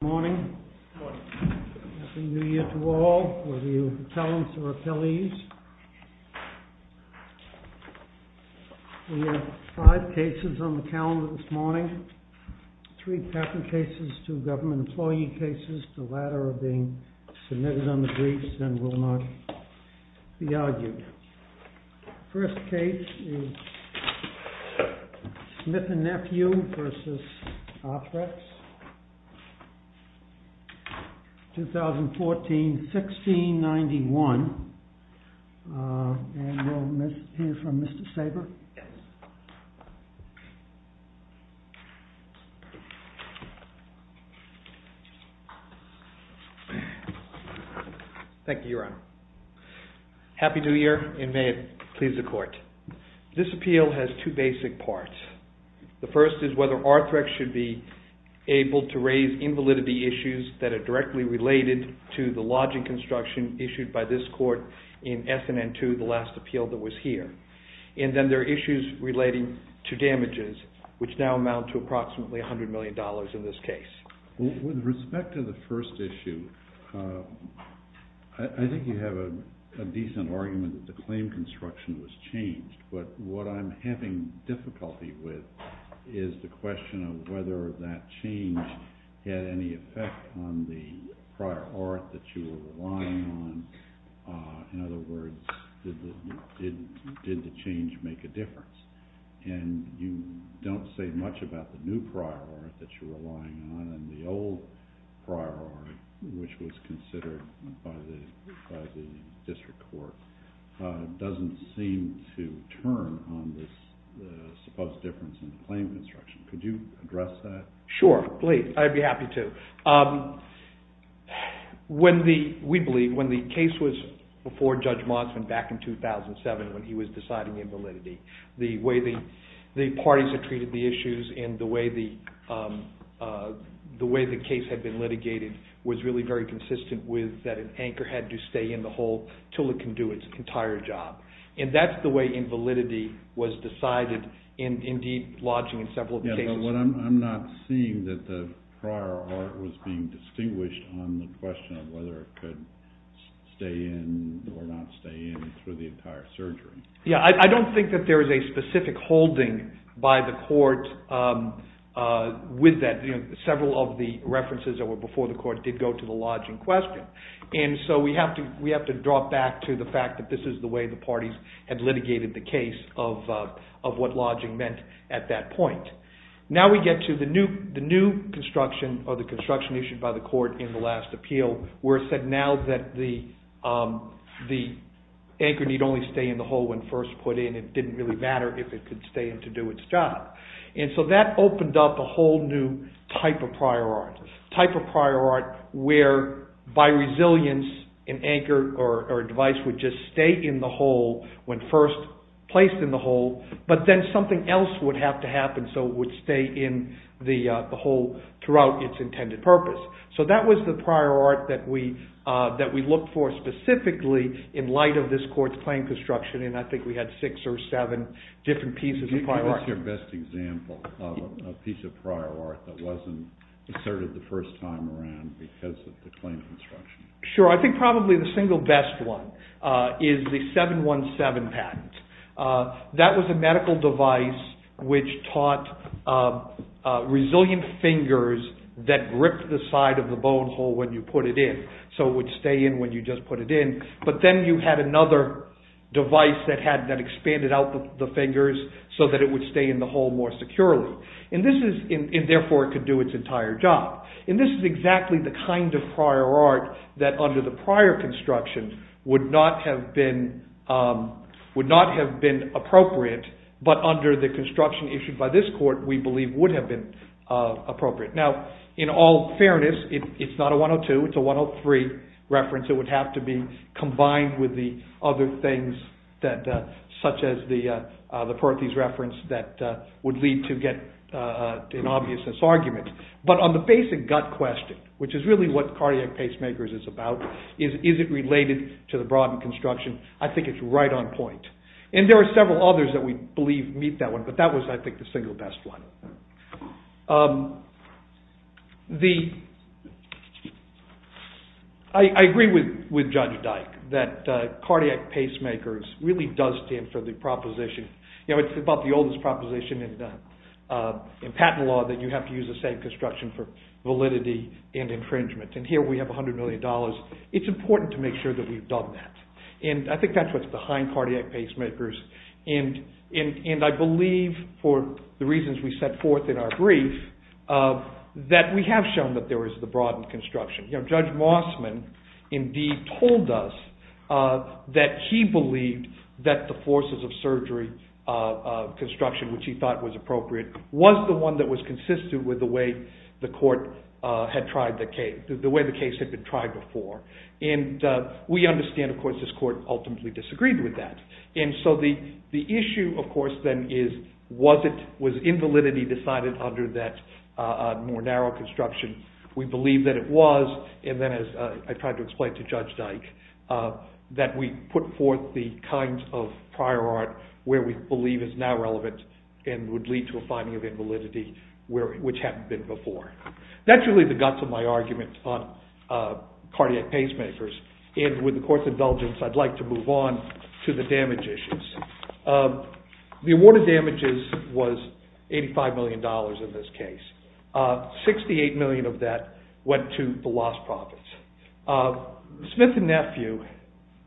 Good morning. Happy New Year to all, whether you're accountants or appellees. We have five cases on the calendar this morning. Three patent cases, two government employee cases, the latter are being submitted on the briefs and will not be argued. First case is Smith & Nephew v. Arthrex. 2014-1691. And we'll hear from Mr. Sabre. Thank you, Your Honor. Happy New Year and may it please the Court. This appeal has two basic parts. The first is whether Arthrex should be able to raise invalidity issues that are directly related to the lodging construction issued by this Court in S&N 2, the last appeal that was here. And then there are issues relating to damages, which now amount to approximately $100 million in this case. With respect to the first issue, I think you have a decent argument that the claim construction was changed. But what I'm having difficulty with is the question of whether that change had any effect on the prior art that you were relying on. In other words, did the change make a difference? And you don't say much about the new prior art that you were relying on and the old prior art, which was considered by the District Court. It doesn't seem to turn on this supposed difference in the claim construction. Could you address that? Sure, please. I'd be happy to. We believe when the case was before Judge Motsman back in 2007 when he was deciding invalidity, the way the parties had treated the issues and the way the case had been litigated was really very consistent with that an anchor had to stay in the hole until it can do it. And that's the way invalidity was decided in deep lodging in several cases. I'm not seeing that the prior art was being distinguished on the question of whether it could stay in or not stay in through the entire surgery. I don't think that there is a specific holding by the court with that. Several of the references that were before the court did go to the lodging question. And so we have to drop back to the fact that this is the way the parties had litigated the case of what lodging meant at that point. Now we get to the new construction or the construction issued by the court in the last appeal where it said now that the anchor need only stay in the hole when first put in. It didn't really matter if it could stay in to do its job. And so that opened up a whole new type of prior art. A type of prior art where by resilience an anchor or device would just stay in the hole when first placed in the hole but then something else would have to happen so it would stay in the hole throughout its intended purpose. So that was the prior art that we looked for specifically in light of this court's claim construction and I think we had six or seven different pieces of prior art. What's your best example of a piece of prior art that wasn't asserted the first time around because of the claim construction? Sure, I think probably the single best one is the 717 patent. That was a medical device which taught resilient fingers that gripped the side of the bone hole when you put it in so it would stay in when you just put it in. But then you had another device that expanded out the fingers so that it would stay in the hole more securely and therefore it could do its entire job. And this is exactly the kind of prior art that under the prior construction would not have been appropriate but under the construction issued by this court we believe would have been appropriate. Now, in all fairness, it's not a 102, it's a 103 reference. It would have to be combined with the other things such as the Perthes reference that would lead to get an obviousness argument. But on the basic gut question, which is really what Cardiac Pacemakers is about, is it related to the broad construction, I think it's right on point. And there are several others that we believe meet that one but that was I think the single best one. I agree with Judge Dyke that Cardiac Pacemakers really does stand for the proposition. It's about the oldest proposition in patent law that you have to use the same construction for validity and infringement and here we have $100 million. It's important to make sure that we've done that and I think that's what's behind Cardiac Pacemakers. And I believe for the reasons we set forth in our brief that we have shown that there is the broad construction. Judge Mossman indeed told us that he believed that the forces of surgery construction which he thought was appropriate was the one that was consistent with the way the court had tried the case, the way the case had been tried before. And we understand of course this court ultimately disagreed with that. And so the issue of course then is was it, was invalidity decided under that more narrow construction. We believe that it was and then as I tried to explain to Judge Dyke that we put forth the kinds of prior art where we believe is now relevant and would lead to a finding of invalidity which hadn't been before. That's really the guts of my argument on Cardiac Pacemakers and with the court's indulgence I'd like to move on to the damage issues. The award of damages was $85 million in this case. $68 million of that went to the lost profits. Smith and Nephew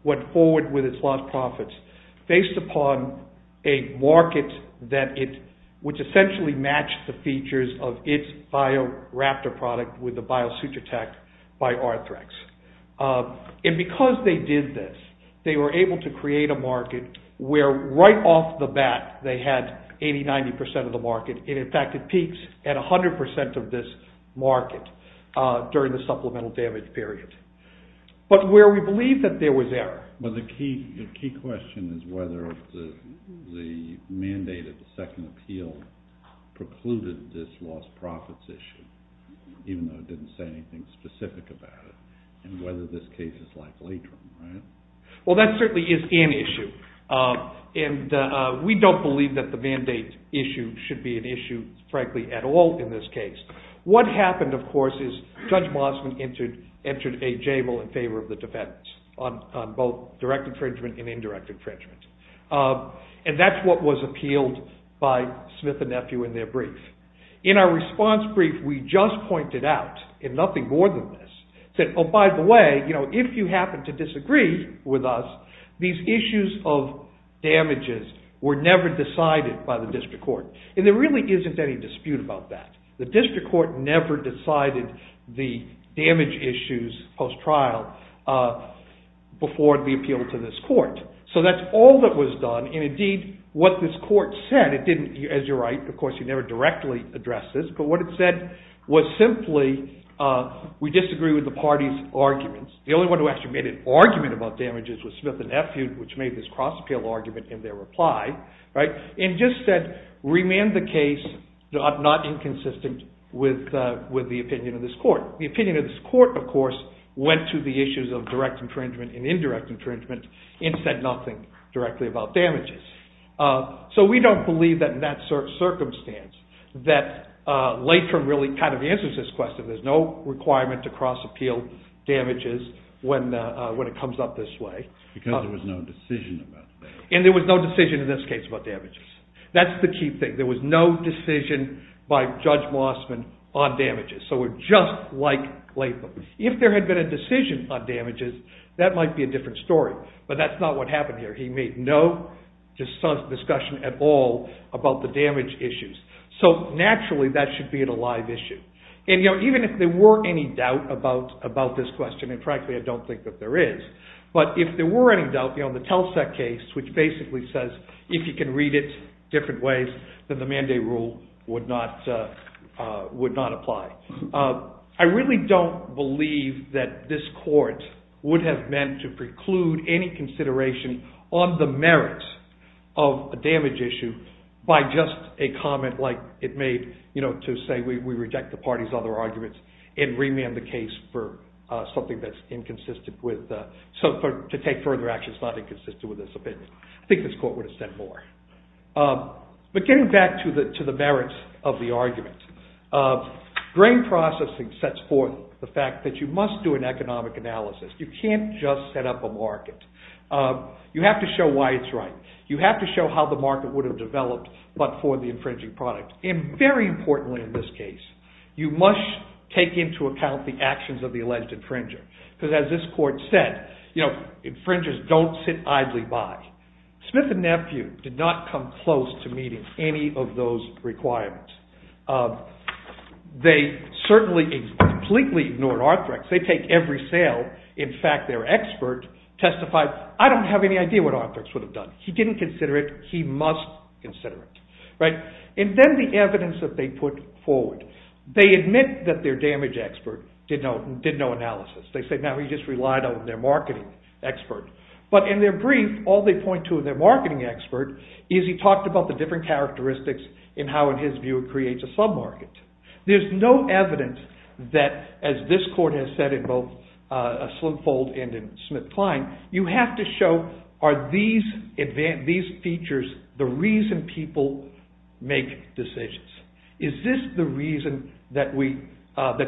went forward with its lost profits based upon a market that it, which essentially matched the features of its BioRaptor product with the Biosutratec by Arthrex. And because they did this they were able to create a market where right off the bat they had 80-90% of the market. And in fact it peaks at 100% of this market during the supplemental damage period. But where we believe that there was error. But the key question is whether the mandate of the second appeal precluded this lost profits issue even though it didn't say anything specific about it. And whether this case is like Latrim, right? Well that certainly is an issue. And we don't believe that the mandate issue should be an issue frankly at all in this case. What happened of course is Judge Mossman entered a jable in favor of the defense on both direct infringement and indirect infringement. And that's what was appealed by Smith and Nephew in their brief. In our response brief we just pointed out, and nothing more than this, said, oh by the way, if you happen to disagree with us, these issues of damages were never decided by the district court. And there really isn't any dispute about that. The district court never decided the damage issues post-trial before the appeal to this court. So that's all that was done. And indeed what this court said, it didn't, as you're right, of course you never directly address this, but what it said was simply we disagree with the party's arguments. The only one who actually made an argument about damages was Smith and Nephew, which made this cross appeal argument in their reply. And just said remand the case not inconsistent with the opinion of this court. The opinion of this court, of course, went to the issues of direct infringement and indirect infringement and said nothing directly about damages. So we don't believe that in that circumstance that Latrim really kind of answers this question. There's no requirement to cross appeal damages when it comes up this way. Because there was no decision about that. And there was no decision in this case about damages. That's the key thing. There was no decision by Judge Mossman on damages. So we're just like Latrim. If there had been a decision on damages, that might be a different story. But that's not what happened here. He made no discussion at all about the damage issues. So naturally that should be a live issue. And even if there were any doubt about this question, and frankly I don't think that there is. But if there were any doubt, the Telsec case, which basically says if you can read it different ways, then the mandate rule would not apply. I really don't believe that this court would have meant to preclude any consideration on the merits of a damage issue by just a comment like it made to say we reject the party's other arguments and remand the case for something that's inconsistent with, to take further action that's not inconsistent with this opinion. I think this court would have said more. But getting back to the merits of the argument. Grain processing sets forth the fact that you must do an economic analysis. You can't just set up a market. You have to show why it's right. You have to show how the market would have developed but for the infringing product. And very importantly in this case, you must take into account the actions of the alleged infringer. Because as this court said, infringers don't sit idly by. Smith and Nephew did not come close to meeting any of those requirements. They certainly completely ignored Arthrex. They take every sale. In fact, their expert testified, I don't have any idea what Arthrex would have done. He didn't consider it. He must consider it. And then the evidence that they put forward. They admit that their damage expert did no analysis. They say now he just relied on their marketing expert. But in their brief, all they point to in their marketing expert is he talked about the different characteristics and how in his view it creates a sub-market. There's no evidence that as this court has said in both Slimfold and in Smith-Klein, you have to show are these features the reason people make decisions. Is this the reason that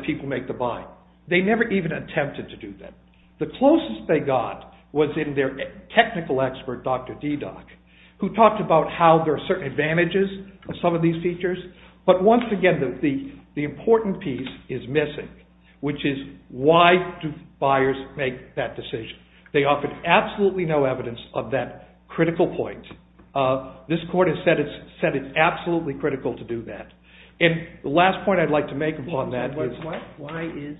people make the buy? They never even attempted to do that. The closest they got was in their technical expert, Dr. Dedock, who talked about how there are certain advantages of some of these features. But once again, the important piece is missing, which is why do buyers make that decision? They offered absolutely no evidence of that critical point. This court has said it's absolutely critical to do that. And the last point I'd like to make upon that is…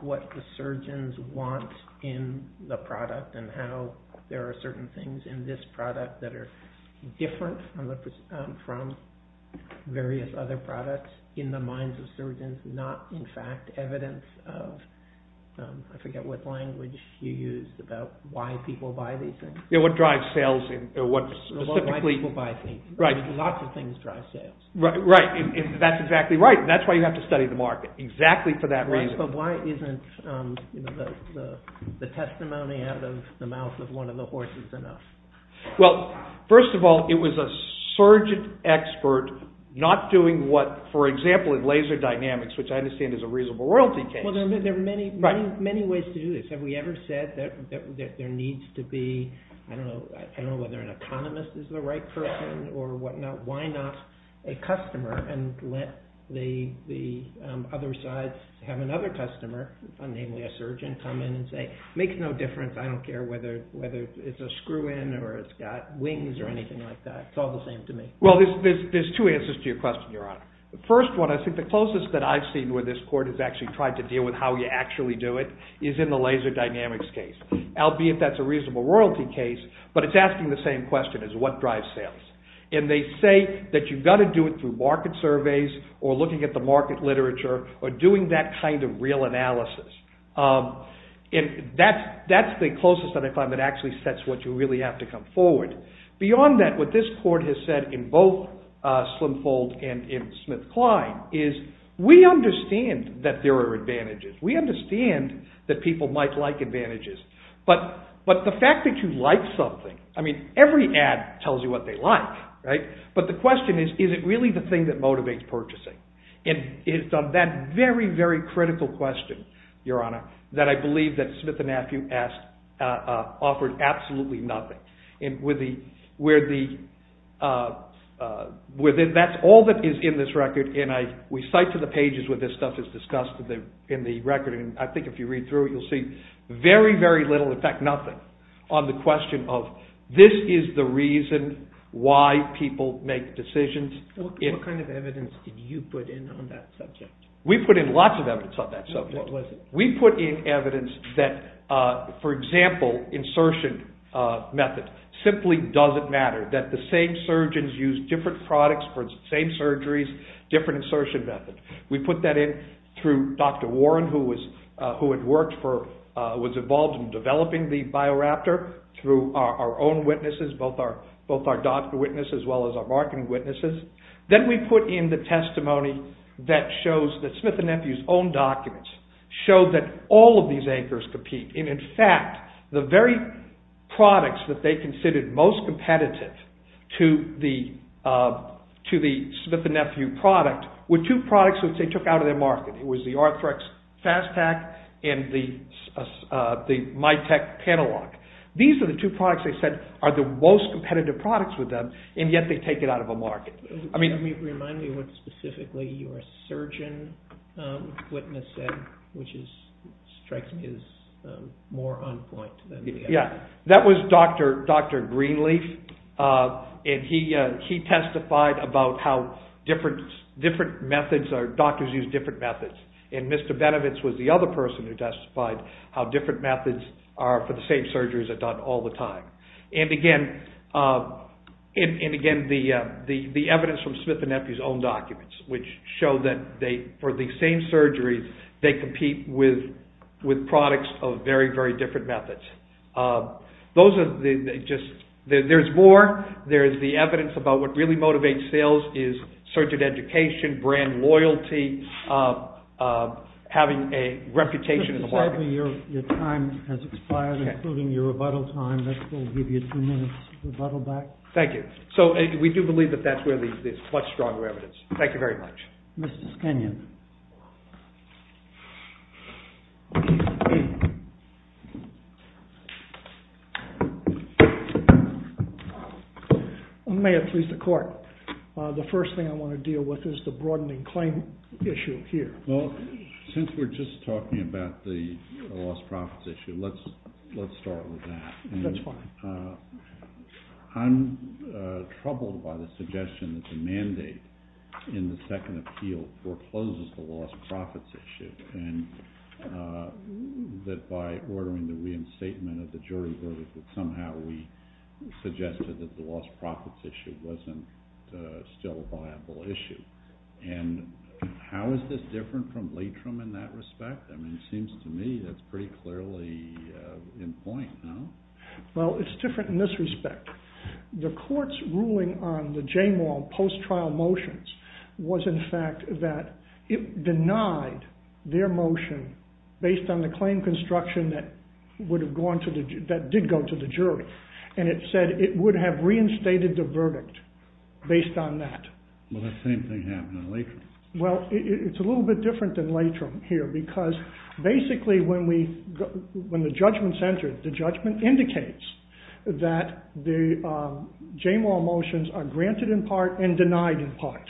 What the surgeons want in the product and how there are certain things in this product that are different from various other products in the minds of surgeons, not in fact evidence of… I forget what language you used about why people buy these things. What drives sales and what specifically… Lots of things drive sales. Right. That's exactly right. That's why you have to study the market. Exactly for that reason. But why isn't the testimony out of the mouth of one of the horses enough? Well, first of all, it was a surgeon expert not doing what, for example, in laser dynamics, which I understand is a reasonable royalty case… Well, there are many ways to do this. Have we ever said that there needs to be… I don't know whether an economist is the right person or whatnot. Why not a customer and let the other side have another customer, namely a surgeon, come in and say, it makes no difference, I don't care whether it's a screw-in or it's got wings or anything like that. It's all the same to me. Well, there's two answers to your question, Your Honor. The first one, I think the closest that I've seen where this court has actually tried to deal with how you actually do it is in the laser dynamics case, albeit that's a reasonable royalty case, but it's asking the same question as what drives sales. It's saying that you've got to do it through market surveys or looking at the market literature or doing that kind of real analysis. And that's the closest that I find that actually sets what you really have to come forward. Beyond that, what this court has said in both Slimfold and in SmithKline is we understand that there are advantages. We understand that people might like advantages, but the fact that you like something… I mean, every ad tells you what they like, right? But the question is, is it really the thing that motivates purchasing? And it's on that very, very critical question, Your Honor, that I believe that Smith and Matthew offered absolutely nothing. That's all that is in this record, and we cite to the pages where this stuff is discussed in the record, and I think if you read through it, you'll see very, very little, in fact nothing, on the question of this is the reason why people make decisions. What kind of evidence did you put in on that subject? We put in lots of evidence on that subject. What was it? We put in evidence that, for example, insertion method simply doesn't matter, that the same surgeons use different products for the same surgeries, different insertion methods. We put that in through Dr. Warren, who had worked for, was involved in developing the BioRaptor, through our own witnesses, both our doctor witnesses as well as our marketing witnesses. Then we put in the testimony that shows that Smith and Matthew's own documents show that all of these anchors compete, and in fact, the very products that they considered most competitive to the Smith and Matthew product were two products that they took out of their market. It was the Arthrex FastPak and the Mytek Paneloc. These are the two products they said are the most competitive products with them, and yet they take it out of a market. Remind me what specifically your surgeon witness said, which strikes me as more on point than the other. Yeah, that was Dr. Greenleaf, and he testified about how different methods, or doctors use different methods, and Mr. Benevitz was the other person who testified how different methods are for the same surgeries are done all the time. And again, the evidence from Smith and Matthew's own documents, which show that for the same surgeries, they compete with products of very, very different methods. There's more. There's the evidence about what really motivates sales is surgeon education, brand loyalty, having a reputation in the market. Your time has expired, including your rebuttal time. We'll give you two minutes to rebuttal back. Thank you. So we do believe that that's where there's much stronger evidence. Thank you very much. Mr. Skinion. May it please the court. The first thing I want to deal with is the broadening claim issue here. Well, since we're just talking about the lost profits issue, let's start with that. That's fine. I'm troubled by the suggestion that the mandate in the second appeal forecloses the lost profits issue, and that by ordering the reinstatement of the jury verdict that somehow we suggested that the lost profits issue was still a viable issue. And how is this different from Leitrim in that respect? I mean, it seems to me that's pretty clearly in point, no? Well, it's different in this respect. The court's ruling on the Jamal post-trial motions was in fact that it denied their motion based on the claim construction that did go to the jury. And it said it would have reinstated the verdict based on that. Well, that same thing happened in Leitrim. Well, it's a little bit different than Leitrim here because basically when the judgment's entered, the judgment indicates that the Jamal motions are granted in part and denied in part.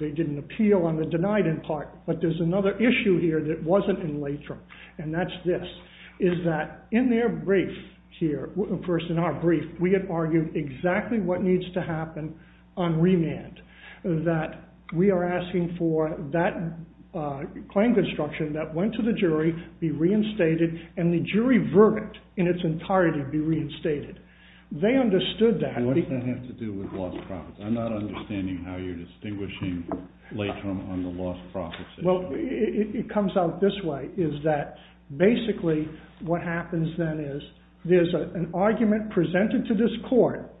They didn't appeal on the denied in part, but there's another issue here that wasn't in Leitrim, and that's this, is that in their brief here, first in our brief, we had argued exactly what needs to happen on remand, that we are asking for that claim construction that went to the jury be reinstated and the jury verdict in its entirety be reinstated. They understood that. What does that have to do with lost profits? I'm not understanding how you're distinguishing Leitrim on the lost profits issue. Well, it comes out this way, is that basically what happens then is there's an argument presented to this court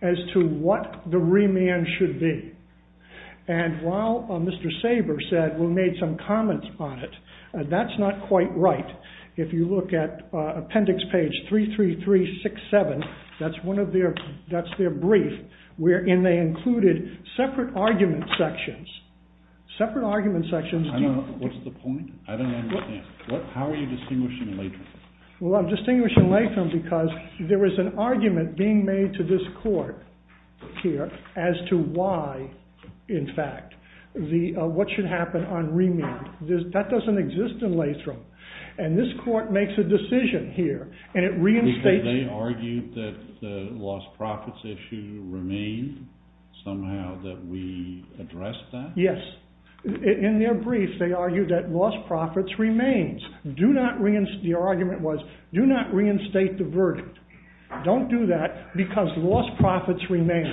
as to what the remand should be. And while Mr. Saber said, we made some comments on it, that's not quite right. If you look at appendix page 33367, that's their brief, wherein they included separate argument sections. Separate argument sections. What's the point? How are you distinguishing Leitrim? Well, I'm distinguishing Leitrim because there was an argument being made to this court here as to why, in fact, what should happen on remand. That doesn't exist in Leitrim. And this court makes a decision here, and it reinstates... Because they argued that the lost profits issue remained, somehow, that we addressed that? Yes. In their brief, they argued that lost profits remains. Their argument was, do not reinstate the verdict. Don't do that because lost profits remains.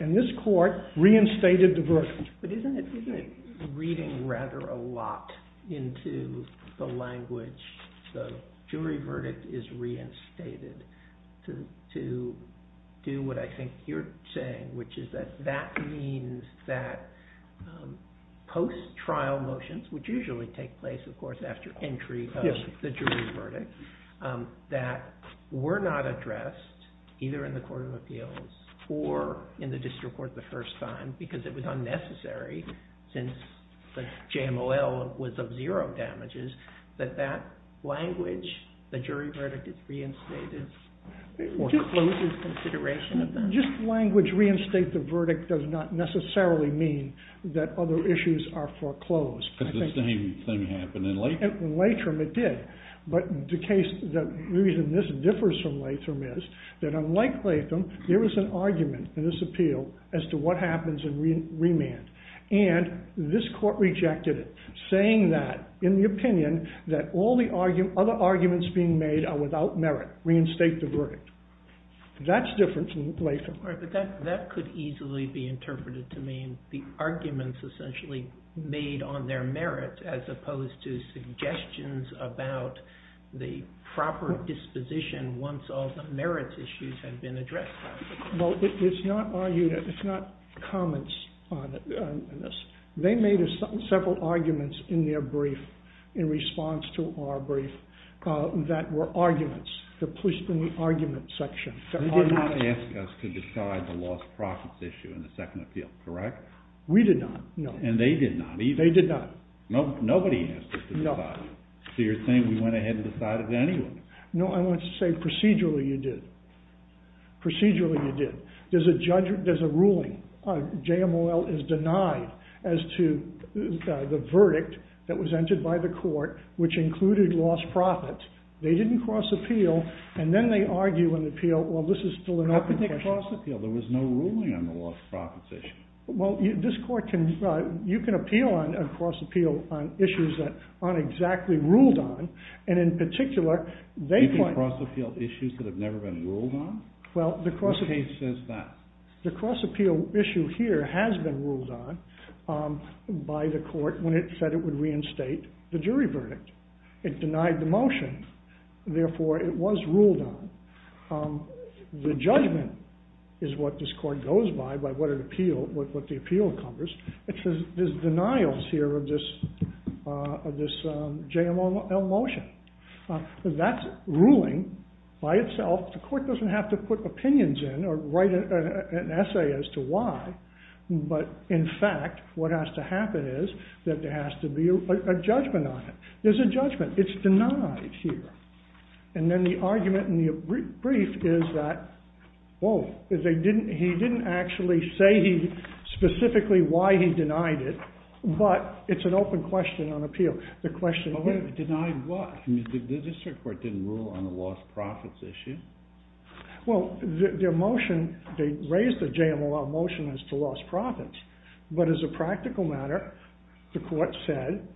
And this court reinstated the verdict. But isn't it reading rather a lot into the language, the jury verdict is reinstated, to do what I think you're saying, post-trial motions, which usually take place, of course, in the history of the jury verdict, that were not addressed, either in the Court of Appeals or in the district court the first time, because it was unnecessary since the JML was of zero damages, that that language, the jury verdict is reinstated or closes consideration of that? Just language, reinstate the verdict, does not necessarily mean that other issues are foreclosed. Because the same thing happened in Leitrim. It did. But the reason this differs from Leitrim is that unlike Leitrim, there was an argument in this appeal as to what happens in remand. And this court rejected it, saying that, in the opinion, that all the other arguments being made are without merit. Reinstate the verdict. That's different from Leitrim. But that could easily be interpreted to mean the arguments essentially made on their merit as opposed to suggestions about the proper disposition once all the merit issues have been addressed. Well, it's not arguments, it's not comments on this. They made several arguments in their brief, in response to our brief, that were arguments. The police in the argument section. They did not ask us to decide the lost profits issue in the second appeal, correct? We did not, no. And they did not either. They did not. Nobody asked us to decide. So you're saying we went ahead and decided to anyone. No, I want to say procedurally you did. Procedurally you did. There's a ruling. JMOL is denied as to the verdict that was entered by the court which included lost profits. They didn't cross appeal and then they argue in the appeal, well, this is still an open question. How could they cross appeal? There was no ruling on the lost profits issue. Well, this court can, you can appeal on a cross appeal on issues that aren't exactly ruled on. And in particular, you can cross appeal issues that have never been ruled on? The case says that. The cross appeal issue here has been ruled on by the court when it said it would reinstate the jury verdict. It denied the motion. Therefore, it was ruled on. The judgment is what this court goes by by what the appeal encumbers. It says there's denials here of this JML motion. That's ruling by itself. The court doesn't have to put opinions in or write an essay as to why. But in fact, what has to happen is that there has to be a judgment on it. There's a judgment. It's denied here. And then the argument in the brief is that, whoa, he didn't actually say specifically why he denied it. But it's an open question on appeal. It denied what? The district court didn't rule on a lost profits issue? Well, their motion, they raised the JML motion as to lost profits. But as a practical matter, the court said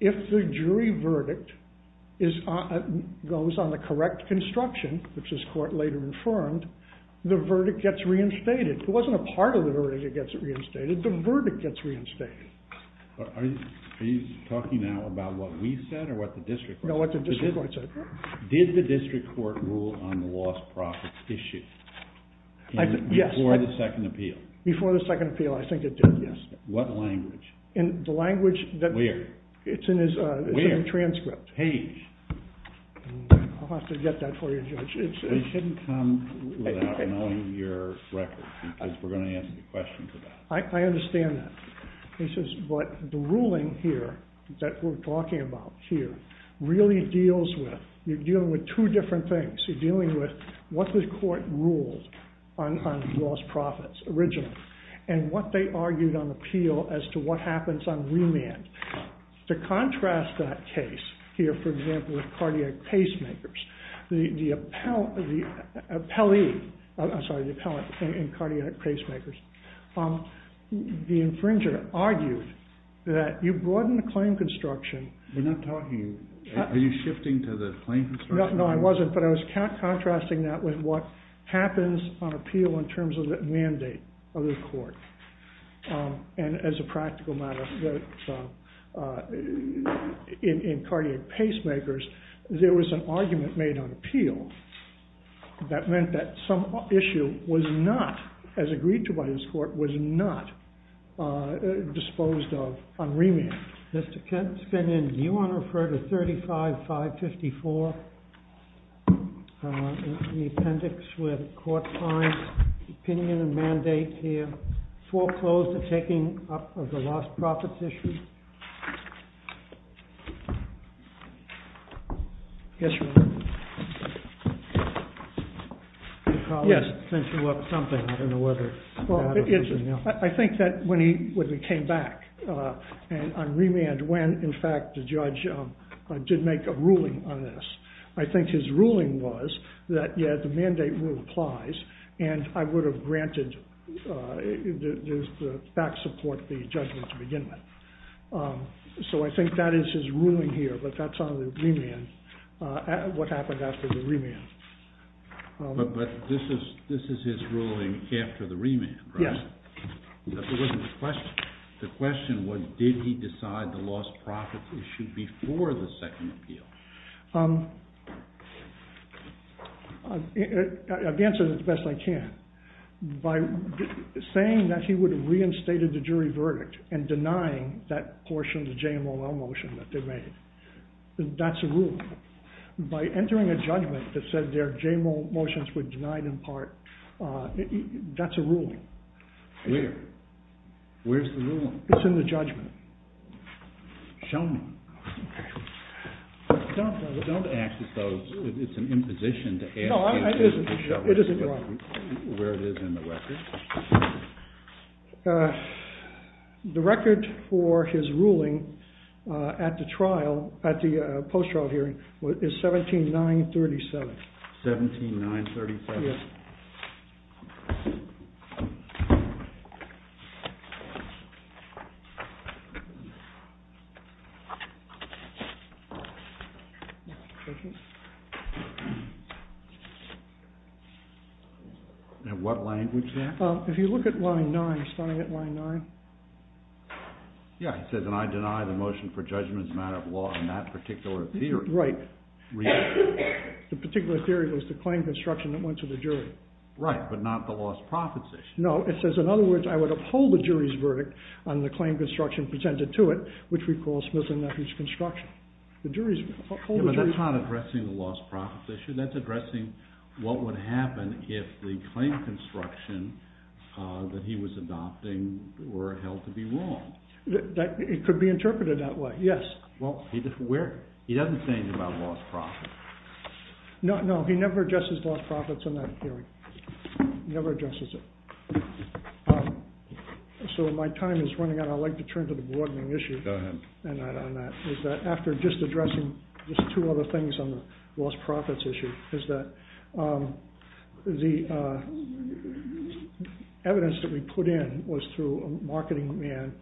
if the jury verdict goes on the correct construction, which this court later confirmed, the verdict gets reinstated. It wasn't a part of the verdict that gets reinstated. The verdict gets reinstated. Are you talking now about what we said or what the district court said? No, what the district court said. Did the district court rule on the lost profits issue before the second appeal? Yes. Before the second appeal, I think it did, yes. The language that... Where? It's in his transcript. Where? Page. I'll have to get that for you, Judge. It shouldn't come without knowing your records because we're going to ask you questions about it. I understand that. He says, but the ruling here that we're talking about here really deals with, you're dealing with two different things. You're dealing with what the court ruled on lost profits originally and what they argued on appeal as to what happens on remand. To contrast that case here, for example, with cardiac pacemakers, the appellee... I'm sorry, the appellant in cardiac pacemakers, the infringer argued that you broaden the claim construction... We're not talking... Are you shifting to the claim construction? No, I wasn't, but I was contrasting that with what happens of the mandate of the court. And as a practical matter, in cardiac pacemakers, there was an argument made on appeal that meant that some issue was not, as agreed to by this court, was not disposed of on remand. Mr. Kent, do you want to refer to 35-554, the appendix where the court finds opinion and mandate here, foreclosed taking up of the lost profits issue? Yes, Your Honor. Yes, since you left something, I don't know whether... Well, I think that when he came back on remand, when, in fact, the judge did make a ruling on this, I think his ruling was that, yes, the mandate rule applies, and I would have granted the fact support the judgment to begin with. So, I think that is his ruling here, but that's on the remand, what happened after the remand. But this is his ruling after the remand, right? Yes. It wasn't the question. The question was, did he decide the lost profits issue before the second appeal? I'll answer it the best I can. By saying that he would have reinstated the jury verdict and denying that portion of the JMOL motion that they made. That's a rule. By entering a judgment that said their JMOL motions were denied in part, that's a rule. Where? Where's the rule? It's in the judgment. Show me. Don't ask us those. It's an imposition to ask you to show us where it is in the record. The record for his ruling at the trial, at the post-trial hearing, is 17-9-37. 17-9-37? Yes. And what language that? If you look at line 9, starting at line 9. Yeah, it says that I deny the motion for judgment as a matter of law in that particular theory. Right. The particular theory was the claim construction that went to the jury. Right, but not the lost profits issue. No, it says, in other words, I would uphold the jury's verdict on the claim construction presented to it, which we call Smith and Nethers construction. Yeah, but that's not addressing the lost profits issue. That's addressing what would happen if the claim construction that he was adopting were held to be wrong. It could be interpreted that way, yes. He doesn't say anything about lost profits. No, he never addresses lost profits in that theory. He never addresses it. So my time is running out. I'd like to turn to the broadening issue. Go ahead. After just addressing just two other things on the lost profits issue, is that the evidence that we put in was through a marketing man,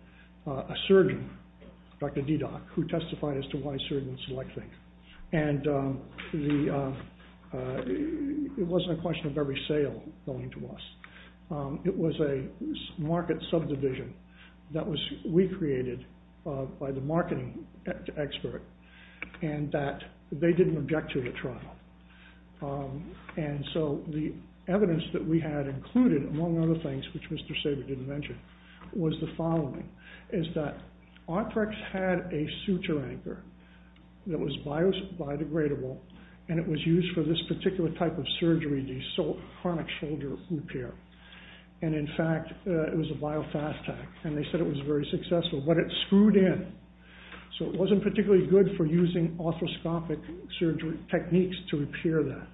a surgeon, Dr. Dedoc, who testified as to why surgeons are likely. And it wasn't a question of every sale going to us. It was a market subdivision that we created by the marketing expert. And that they didn't object to the trial. And so the evidence that we had included, among other things, which Mr. Saber didn't mention, was the following, is that Otrex had a suture anchor that was biodegradable and it was used for this particular type of surgery. So it wasn't particularly good for using orthoscopic surgery techniques to repair that.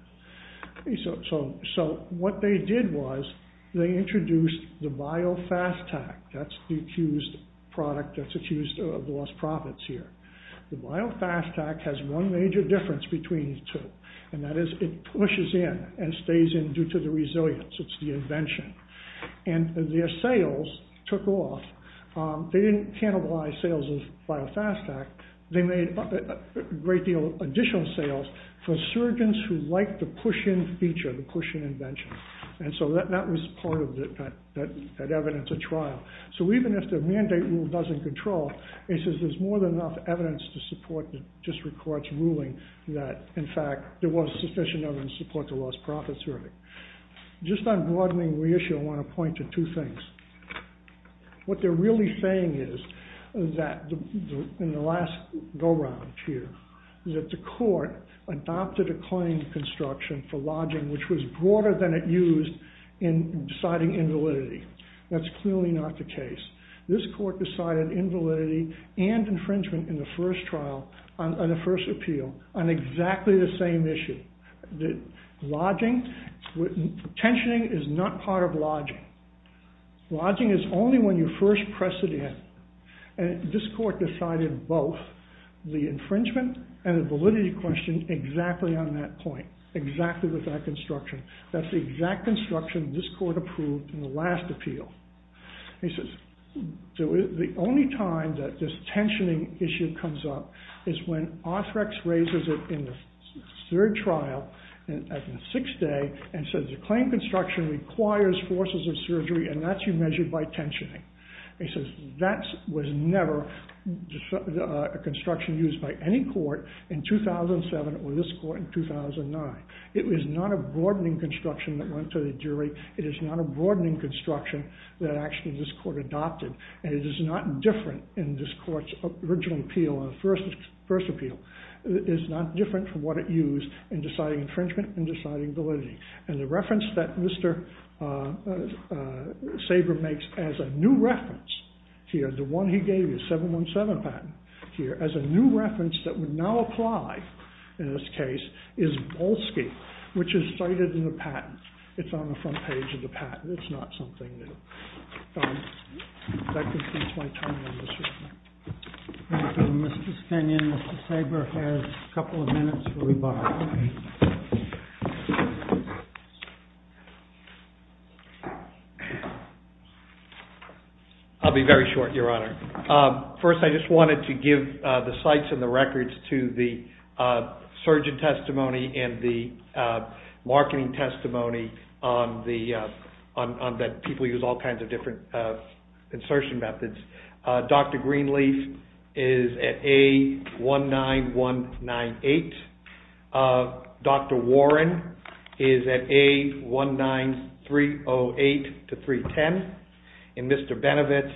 So what they did was they introduced the BioFastTac. That's the accused product that's accused of lost profits here. The BioFastTac has one major difference between the two, and that is it pushes in and stays in due to the resilience. It's the invention. And their sales took off. They didn't cannibalize sales of BioFastTac. They made a great deal of additional sales for surgeons who liked the push-in feature, the push-in feature, and didn't They didn't have to do this again. They didn't have to do this again. The court adopted a claim for lodging that was broader than it used in deciding invalidity. That's clearly not the case. This court decided invalidity and infringement first trial, on the first appeal, on exactly the same issue. Tensioning is not part of lodging. Lodging is only when you first press it in. And this court decided both the infringement and the validity question exactly on that point, exactly with that construction. That's the exact construction this court approved in the last appeal. The only time that this tensioning issue comes up is when Arthrex raises it in the third trial in the sixth day and says the claim construction requires forces of surgery and that's measured by tensioning. That was never a construction used by any court in 2007 or this court in 2009. It was not a broadening construction that went to the jury. It is not a broadening that this court adopted. And it is not different from what it used in deciding infringement and validity. And the reference that Mr. Kenyon gave in 2005 in this case is Bolski which is cited in the patent. It's on the front page of the patent. It's not something new. That concludes my time Mr. Kenyon. Mr. Sabre has a couple of minutes for rebuttal. I'll be very short Sabre. First I just wanted to give the sites and the records to the surgeon testimony and the marketing testimony that people use all kinds of different insertion methods. Dr. Greenleaf is at A19198. Dr. Warren is at A19308 to 310. And Mr. Benevitz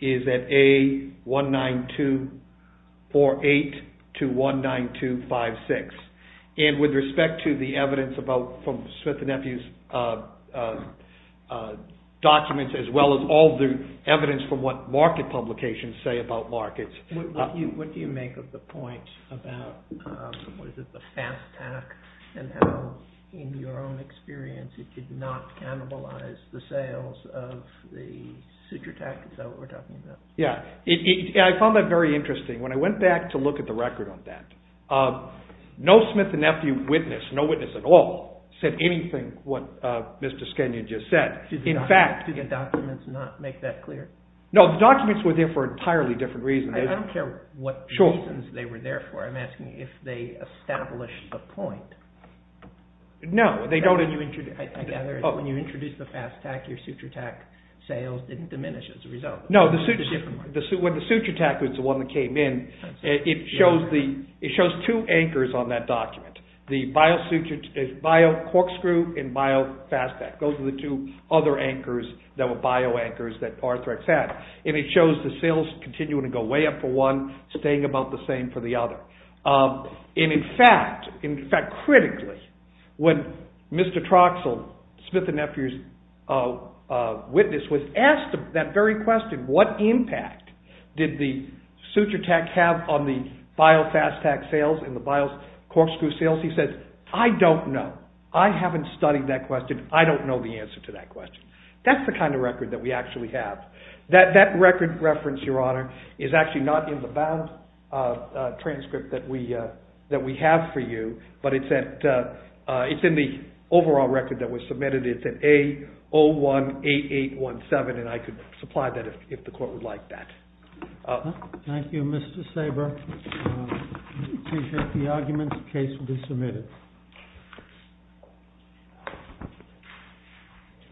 is at A19248 to 1956. And with respect to the evidence about Smith & Nephews documents as well as all the evidence from what market publications say about markets. What do you make of the point about the fast tack and how in your own experience it did not cannibalize the sales of the suture tack? Is that what we're talking about? Yeah. I found that very interesting. When I went back to look at the record on that, no Smith & Nephew witness, no witness at all, said anything about suture tack. I don't care what reasons they were there for. I'm asking if they established the point. No. When you introduced the fast tack, your suture tack sales didn't diminish as a result. When the suture tack was the one that came in, it shows two anchors on that document. The bio corkscrew and bio fast tack. Those are the two other anchors that were bio anchors that Arthrex had. It shows the sales continuing to go way up for one, staying the same for the other. In fact, critically, when Mr. Troxell, Smith & Nephew's witness, was asked what impact did the suture tack have on the bio fast tack sales and the bio corkscrew sales, he said, I don't know. I haven't studied that question. That is the kind of record we have. That record reference is not in the transcript that we but it's in the overall record that was submitted. It's an A-01-8817. I could supply that if the the record was not in the transcript. That was an A-01-8817. I could supply that if the record was not in the